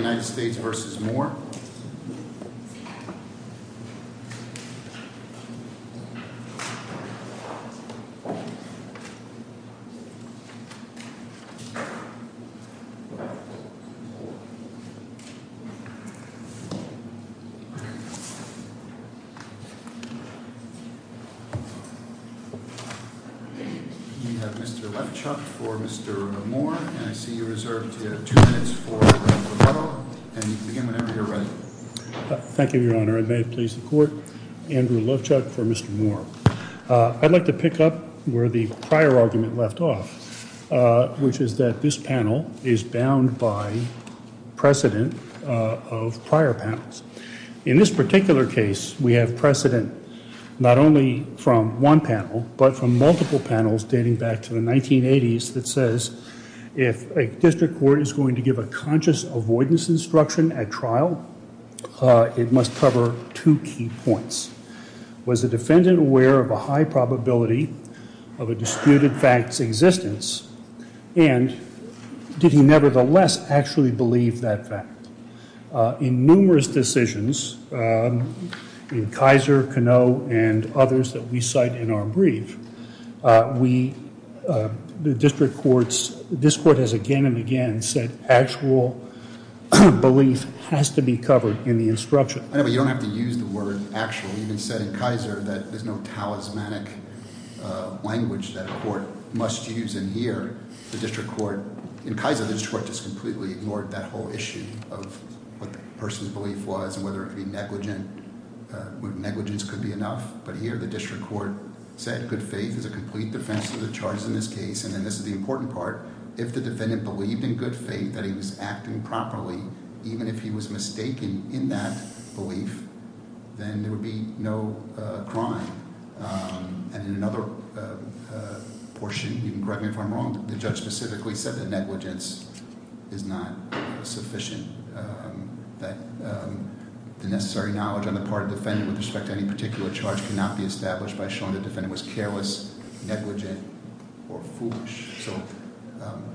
We have Mr. Lefchuk for Mr. Moore, and I see you reserved two minutes for Mr. Lefchuk. Thank you, Your Honor. It may have pleased the Court. Andrew Lefchuk for Mr. Moore. I'd like to pick up where the prior argument left off, which is that this panel is bound by precedent of prior panels. In this particular case, we have precedent not only from one panel, but from multiple panels dating back to the 1980s that says if a district court is going to give a conscious avoidance instruction at trial, it must cover two key points. Was the defendant aware of a high probability of a disputed fact's existence, and did he nevertheless actually believe that fact? In numerous decisions, in Kaiser, Canoe, and others that we cite in our brief, this Court has again and again said actual belief has to be covered in the instruction. You don't have to use the word actual. We even said in Kaiser that there's no talismanic language that a court must use in here. In Kaiser, the district court just completely ignored that whole issue of what the person's belief was and whether negligence could be enough. But here, the district court said good faith is a complete defense of the charges in this case. And then this is the important part. If the defendant believed in good faith that he was acting properly, even if he was mistaken in that belief, then there would be no crime. And in another portion, you can correct me if I'm wrong, the judge specifically said that negligence is not sufficient, that the necessary knowledge on the part of the defendant with respect to any particular charge cannot be established by showing the defendant was careless, negligent, or foolish. So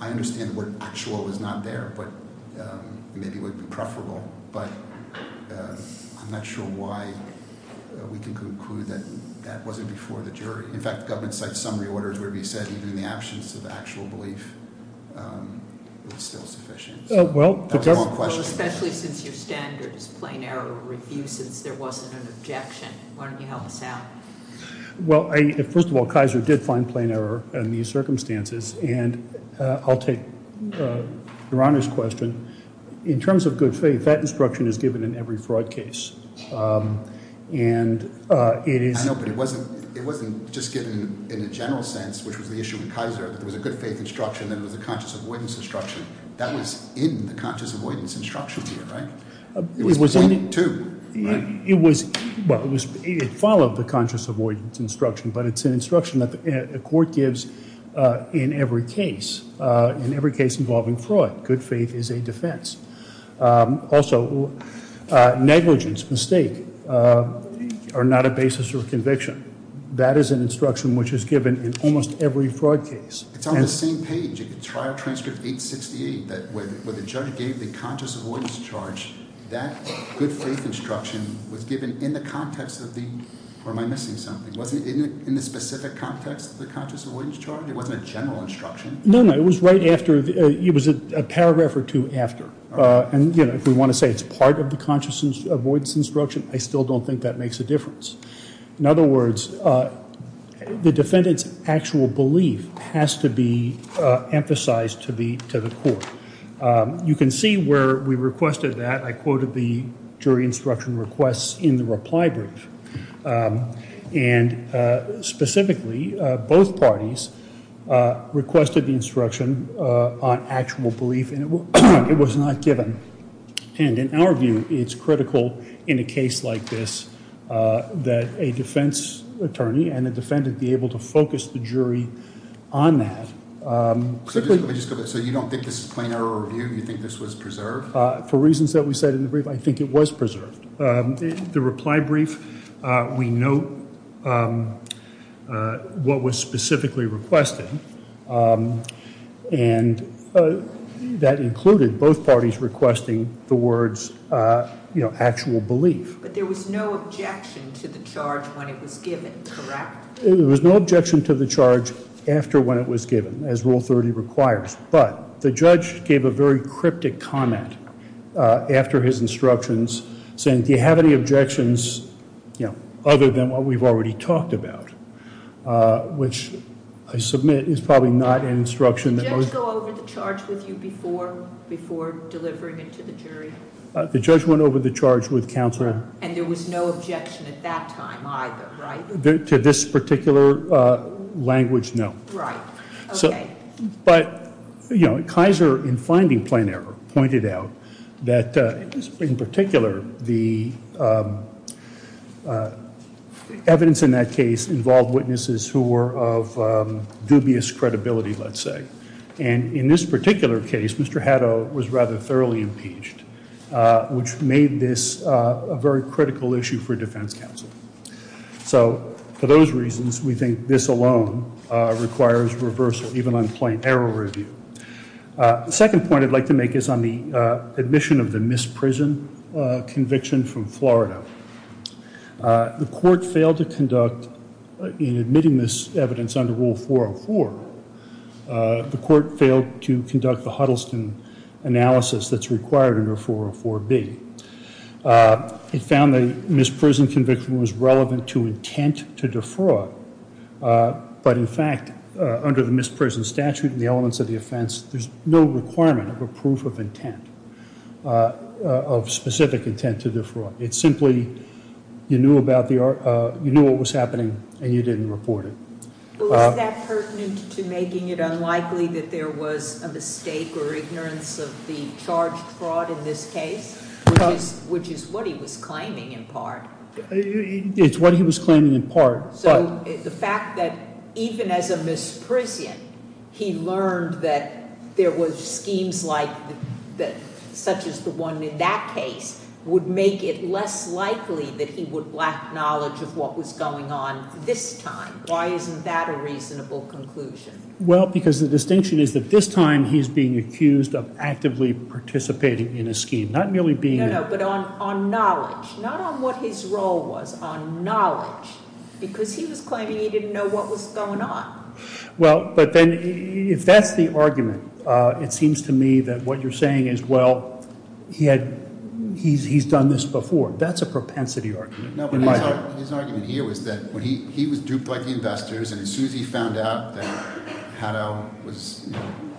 I understand the word actual is not there, but maybe it would be preferable. But I'm not sure why we can conclude that that wasn't before the jury. In fact, the government cites summary orders where we said even in the absence of actual belief, it's still sufficient. That was a long question. Especially since your standards, plain error, were refused since there wasn't an objection. Why don't you help us out? Well, first of all, Kaiser did find plain error in these circumstances. And I'll take Your Honor's question. In terms of good faith, that instruction is given in every fraud case. I know, but it wasn't just given in a general sense, which was the issue with Kaiser. There was a good faith instruction and there was a conscious avoidance instruction. That was in the conscious avoidance instruction here, right? It was point two, right? Well, it followed the conscious avoidance instruction, but it's an instruction that the court gives in every case, in every case involving fraud. Good faith is a defense. Also, negligence, mistake, are not a basis for conviction. That is an instruction which is given in almost every fraud case. It's on the same page. In Trial Transcript 868, where the judge gave the conscious avoidance charge, that good faith instruction was given in the context of the – or am I missing something? Wasn't it in the specific context of the conscious avoidance charge? It wasn't a general instruction? No, no. It was right after – it was a paragraph or two after. And, you know, if we want to say it's part of the conscious avoidance instruction, I still don't think that makes a difference. In other words, the defendant's actual belief has to be emphasized to the court. You can see where we requested that. I quoted the jury instruction requests in the reply brief. And specifically, both parties requested the instruction on actual belief, and it was not given. And in our view, it's critical in a case like this that a defense attorney and a defendant be able to focus the jury on that. So you don't think this is plain error review? You think this was preserved? For reasons that we said in the brief, I think it was preserved. The reply brief, we note what was specifically requested, and that included both parties requesting the words, you know, actual belief. But there was no objection to the charge when it was given, correct? There was no objection to the charge after when it was given, as Rule 30 requires. But the judge gave a very cryptic comment after his instructions, saying, do you have any objections other than what we've already talked about? Which I submit is probably not an instruction that most- Did the judge go over the charge with you before delivering it to the jury? The judge went over the charge with counsel- And there was no objection at that time either, right? To this particular language, no. Right. Okay. But, you know, Kaiser, in finding plain error, pointed out that, in particular, the evidence in that case involved witnesses who were of dubious credibility, let's say. And in this particular case, Mr. Haddo was rather thoroughly impeached, which made this a very critical issue for defense counsel. So, for those reasons, we think this alone requires reversal, even on plain error review. The second point I'd like to make is on the admission of the misprison conviction from Florida. The court failed to conduct, in admitting this evidence under Rule 404, the court failed to conduct the Huddleston analysis that's required under 404B. It found the misprison conviction was relevant to intent to defraud. But, in fact, under the misprison statute and the elements of the offense, there's no requirement of a proof of intent, of specific intent to defraud. It's simply, you knew what was happening and you didn't report it. Was that pertinent to making it unlikely that there was a mistake or ignorance of the charged fraud in this case? Which is what he was claiming, in part. It's what he was claiming, in part. So, the fact that even as a misprison, he learned that there was schemes like, such as the one in that case, would make it less likely that he would lack knowledge of what was going on this time. Why isn't that a reasonable conclusion? Well, because the distinction is that this time he's being accused of actively participating in a scheme, not merely being there. I don't know, but on knowledge. Not on what his role was, on knowledge. Because he was claiming he didn't know what was going on. Well, but then, if that's the argument, it seems to me that what you're saying is, well, he's done this before. That's a propensity argument. No, but his argument here was that when he was duped by the investors and as soon as he found out that Haddow was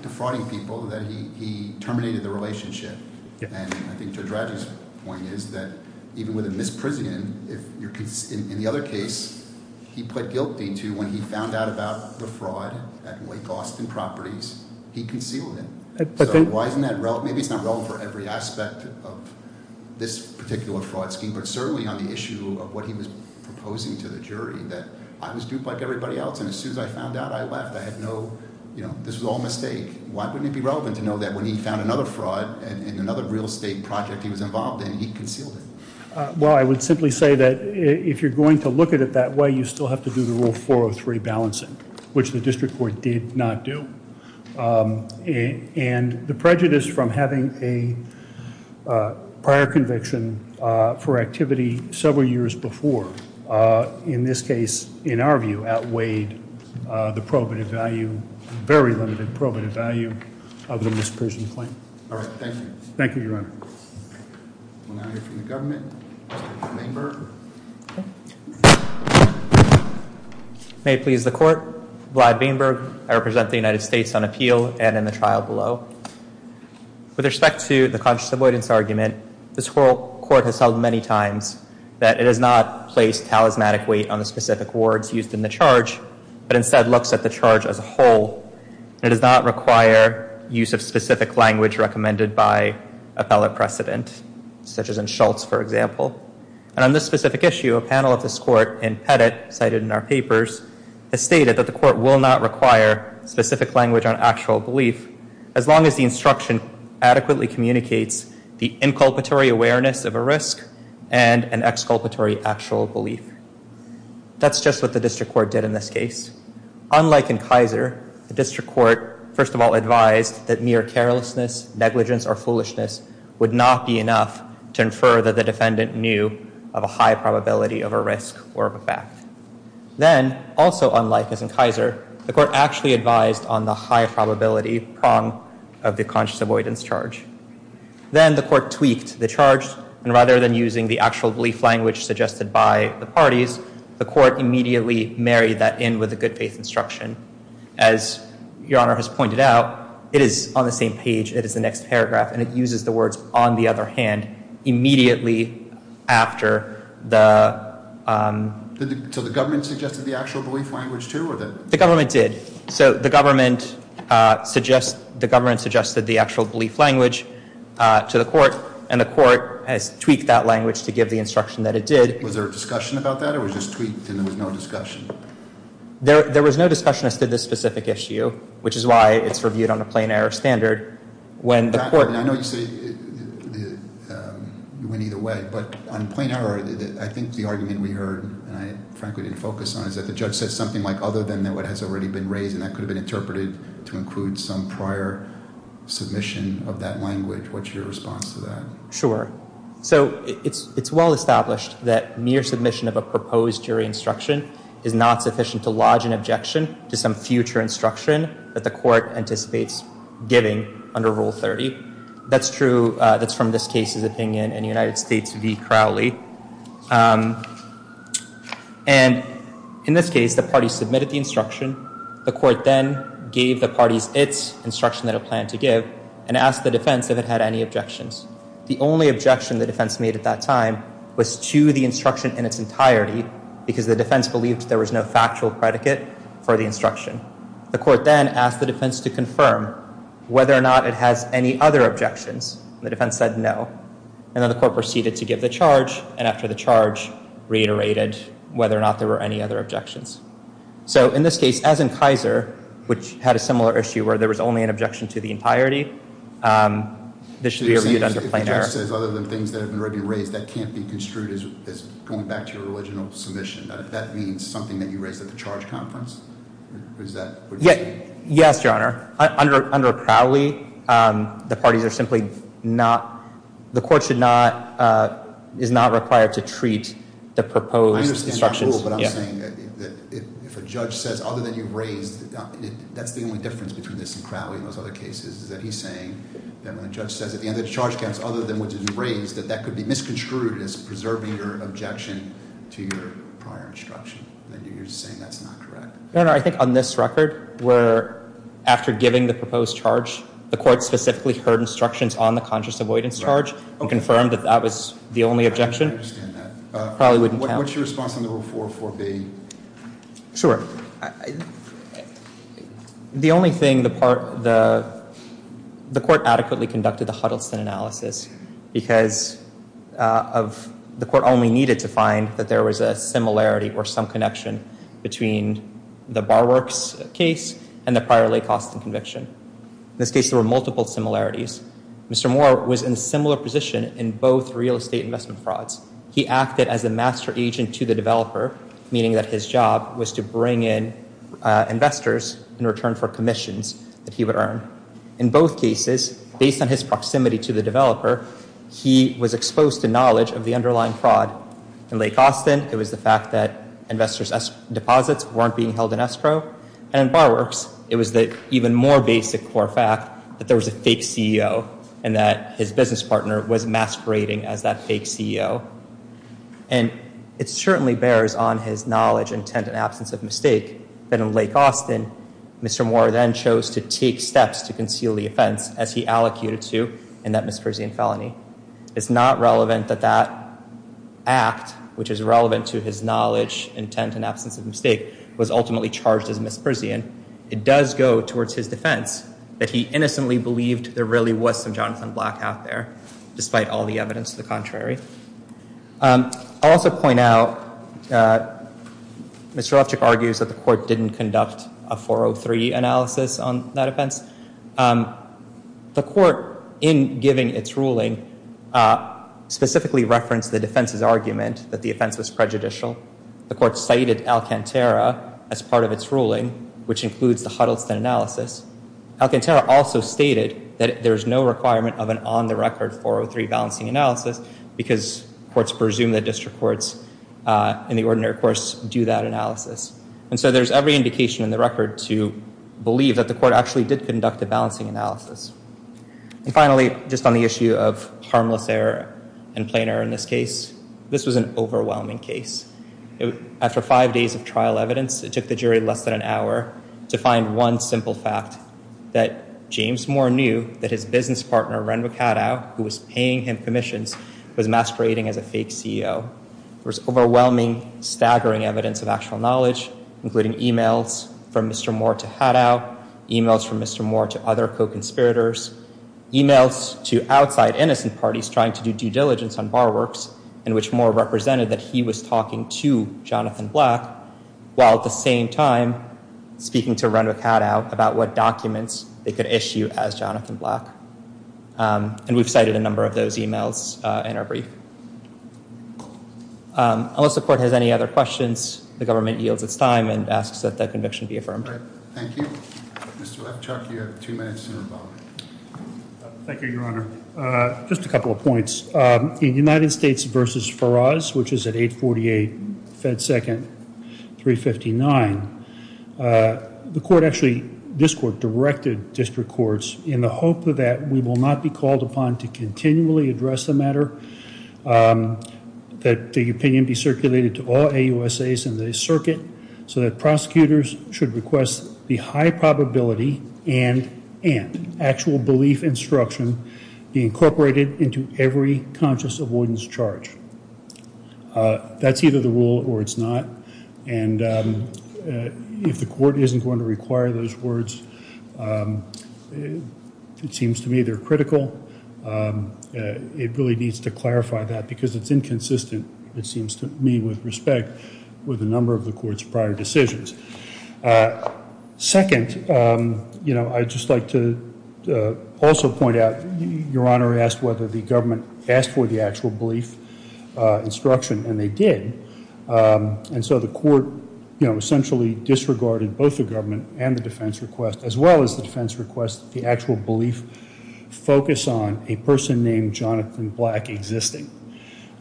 defrauding people, that he terminated the relationship. And I think Judge Raddatz's point is that even with a misprison, in the other case, he put guilty to when he found out about the fraud at Wake Austin Properties, he concealed it. So, why isn't that relevant? Maybe it's not relevant for every aspect of this particular fraud scheme. But certainly on the issue of what he was proposing to the jury, that I was duped like everybody else. And as soon as I found out, I left. I had no – this was all a mistake. Why wouldn't it be relevant to know that when he found another fraud in another real estate project he was involved in, he concealed it? Well, I would simply say that if you're going to look at it that way, you still have to do the Rule 403 balancing, which the district court did not do. And the prejudice from having a prior conviction for activity several years before, in this case, in our view, outweighed the probative value, very limited probative value, of the misprision claim. All right. Thank you. Thank you, Your Honor. We'll now hear from the government. Mr. Bainberg. May it please the Court, Vlad Bainberg. I represent the United States on appeal and in the trial below. With respect to the conscious avoidance argument, this court has held many times that it has not placed talismanic weight on the specific words used in the charge, but instead looks at the charge as a whole. It does not require use of specific language recommended by appellate precedent, such as in Schultz, for example. And on this specific issue, a panel of this court in Pettit, cited in our papers, has stated that the court will not require specific language on actual belief as long as the instruction adequately communicates the inculpatory awareness of a risk and an exculpatory actual belief. That's just what the district court did in this case. Unlike in Kaiser, the district court, first of all, advised that mere carelessness, negligence, or foolishness would not be enough to infer that the defendant knew of a high probability of a risk or of a fact. Then, also unlike as in Kaiser, the court actually advised on the high probability prong of the conscious avoidance charge. Then the court tweaked the charge. And rather than using the actual belief language suggested by the parties, the court immediately married that in with the good faith instruction. As Your Honor has pointed out, it is on the same page. It is the next paragraph. And it uses the words, on the other hand, immediately after the So the government suggested the actual belief language, too? The government did. So the government suggested the actual belief language to the court, and the court has tweaked that language to give the instruction that it did. Was there a discussion about that, or was this tweaked and there was no discussion? There was no discussion as to this specific issue, which is why it's reviewed on a plain error standard. I know you say it went either way, but on plain error, I think the argument we heard, and I frankly didn't focus on, is that the judge said something like, other than what has already been raised, and that could have been interpreted to include some prior submission of that language. What's your response to that? Sure. So it's well established that mere submission of a proposed jury instruction is not sufficient to lodge an objection to some future instruction that the court anticipates giving under Rule 30. That's true. That's from this case's opinion in United States v. Crowley. And in this case, the party submitted the instruction. The court then gave the parties its instruction that it planned to give and asked the defense if it had any objections. The only objection the defense made at that time was to the instruction in its entirety because the defense believed there was no factual predicate for the instruction. The court then asked the defense to confirm whether or not it has any other objections. The defense said no. And then the court proceeded to give the charge, and after the charge reiterated whether or not there were any other objections. So in this case, as in Kaiser, which had a similar issue where there was only an objection to the entirety, this should be reviewed under plain error. If the judge says other than things that have already been raised, that can't be construed as going back to your original submission. That means something that you raised at the charge conference? Is that what you're saying? Yes, Your Honor. Under Crowley, the parties are simply not, the court should not, is not required to treat the proposed instructions. I understand your rule, but I'm saying that if a judge says other than you raised, that's the only difference between this and Crowley and those other cases, is that he's saying that when a judge says at the end of the charge conference other than what you raised, that that could be misconstrued as preserving your objection to your prior instruction. Then you're saying that's not correct. Your Honor, I think on this record, where after giving the proposed charge, the court specifically heard instructions on the conscious avoidance charge and confirmed that that was the only objection. I understand that. Crowley wouldn't count. What's your response on the Rule 404B? Sure. The only thing, the court adequately conducted the Huddleston analysis because the court only needed to find that there was a similarity or some connection between the Barwerks case and the prior lay costs and conviction. In this case, there were multiple similarities. Mr. Moore was in a similar position in both real estate investment frauds. He acted as a master agent to the developer, meaning that his job was to bring in investors in return for commissions that he would earn. In both cases, based on his proximity to the developer, he was exposed to knowledge of the underlying fraud. In Lake Austin, it was the fact that investors' deposits weren't being held in escrow. And in Barwerks, it was the even more basic core fact that there was a fake CEO and that his business partner was masquerading as that fake CEO. And it certainly bears on his knowledge, intent, and absence of mistake that in Lake Austin, Mr. Moore then chose to take steps to conceal the offense as he allocated to in that misprision felony. It's not relevant that that act, which is relevant to his knowledge, intent, and absence of mistake, was ultimately charged as misprision. It does go towards his defense that he innocently believed there really was some Jonathan Black out there, despite all the evidence to the contrary. I'll also point out, Mr. Lefchick argues that the court didn't conduct a 403 analysis on that offense. The court, in giving its ruling, specifically referenced the defense's argument that the offense was prejudicial. The court cited Alcantara as part of its ruling, which includes the Huddleston analysis. Alcantara also stated that there's no requirement of an on-the-record 403 balancing analysis because courts presume that district courts, in the ordinary course, do that analysis. And so there's every indication in the record to believe that the court actually did conduct a balancing analysis. And finally, just on the issue of harmless error and plain error in this case, this was an overwhelming case. After five days of trial evidence, it took the jury less than an hour to find one simple fact that James Moore knew that his business partner, Renwick Haddow, who was paying him commissions, was masquerading as a fake CEO. There was overwhelming, staggering evidence of actual knowledge, including emails from Mr. Moore to Haddow, emails from Mr. Moore to other co-conspirators, emails to outside innocent parties trying to do due diligence on bar works, in which Moore represented that he was talking to Jonathan Black, while at the same time speaking to Renwick Haddow about what documents they could issue as Jonathan Black. And we've cited a number of those emails in our brief. Unless the court has any other questions, the government yields its time and asks that the conviction be affirmed. Thank you. Mr. Webchuck, you have two minutes to revolve. Just a couple of points. In United States v. Faraz, which is at 848 Fed Second 359, the court actually, this court, directed district courts in the hope that we will not be called upon to continually address the matter, that the opinion be circulated to all AUSAs in the circuit, so that prosecutors should request the high probability and actual belief instruction be incorporated into every conscious avoidance charge. That's either the rule or it's not. And if the court isn't going to require those words, it seems to me they're critical. It really needs to clarify that because it's inconsistent, it seems to me, with respect with a number of the court's prior decisions. Second, you know, I'd just like to also point out, Your Honor asked whether the government asked for the actual belief instruction, and they did. And so the court, you know, essentially disregarded both the government and the defense request, as well as the defense request, the actual belief focus on a person named Jonathan Black existing.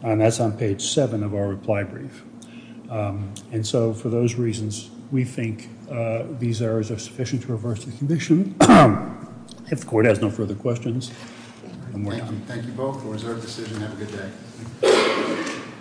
And that's on page seven of our reply brief. And so for those reasons, we think these errors are sufficient to reverse the conviction. If the court has no further questions. Thank you both for a reserved decision. Have a good day.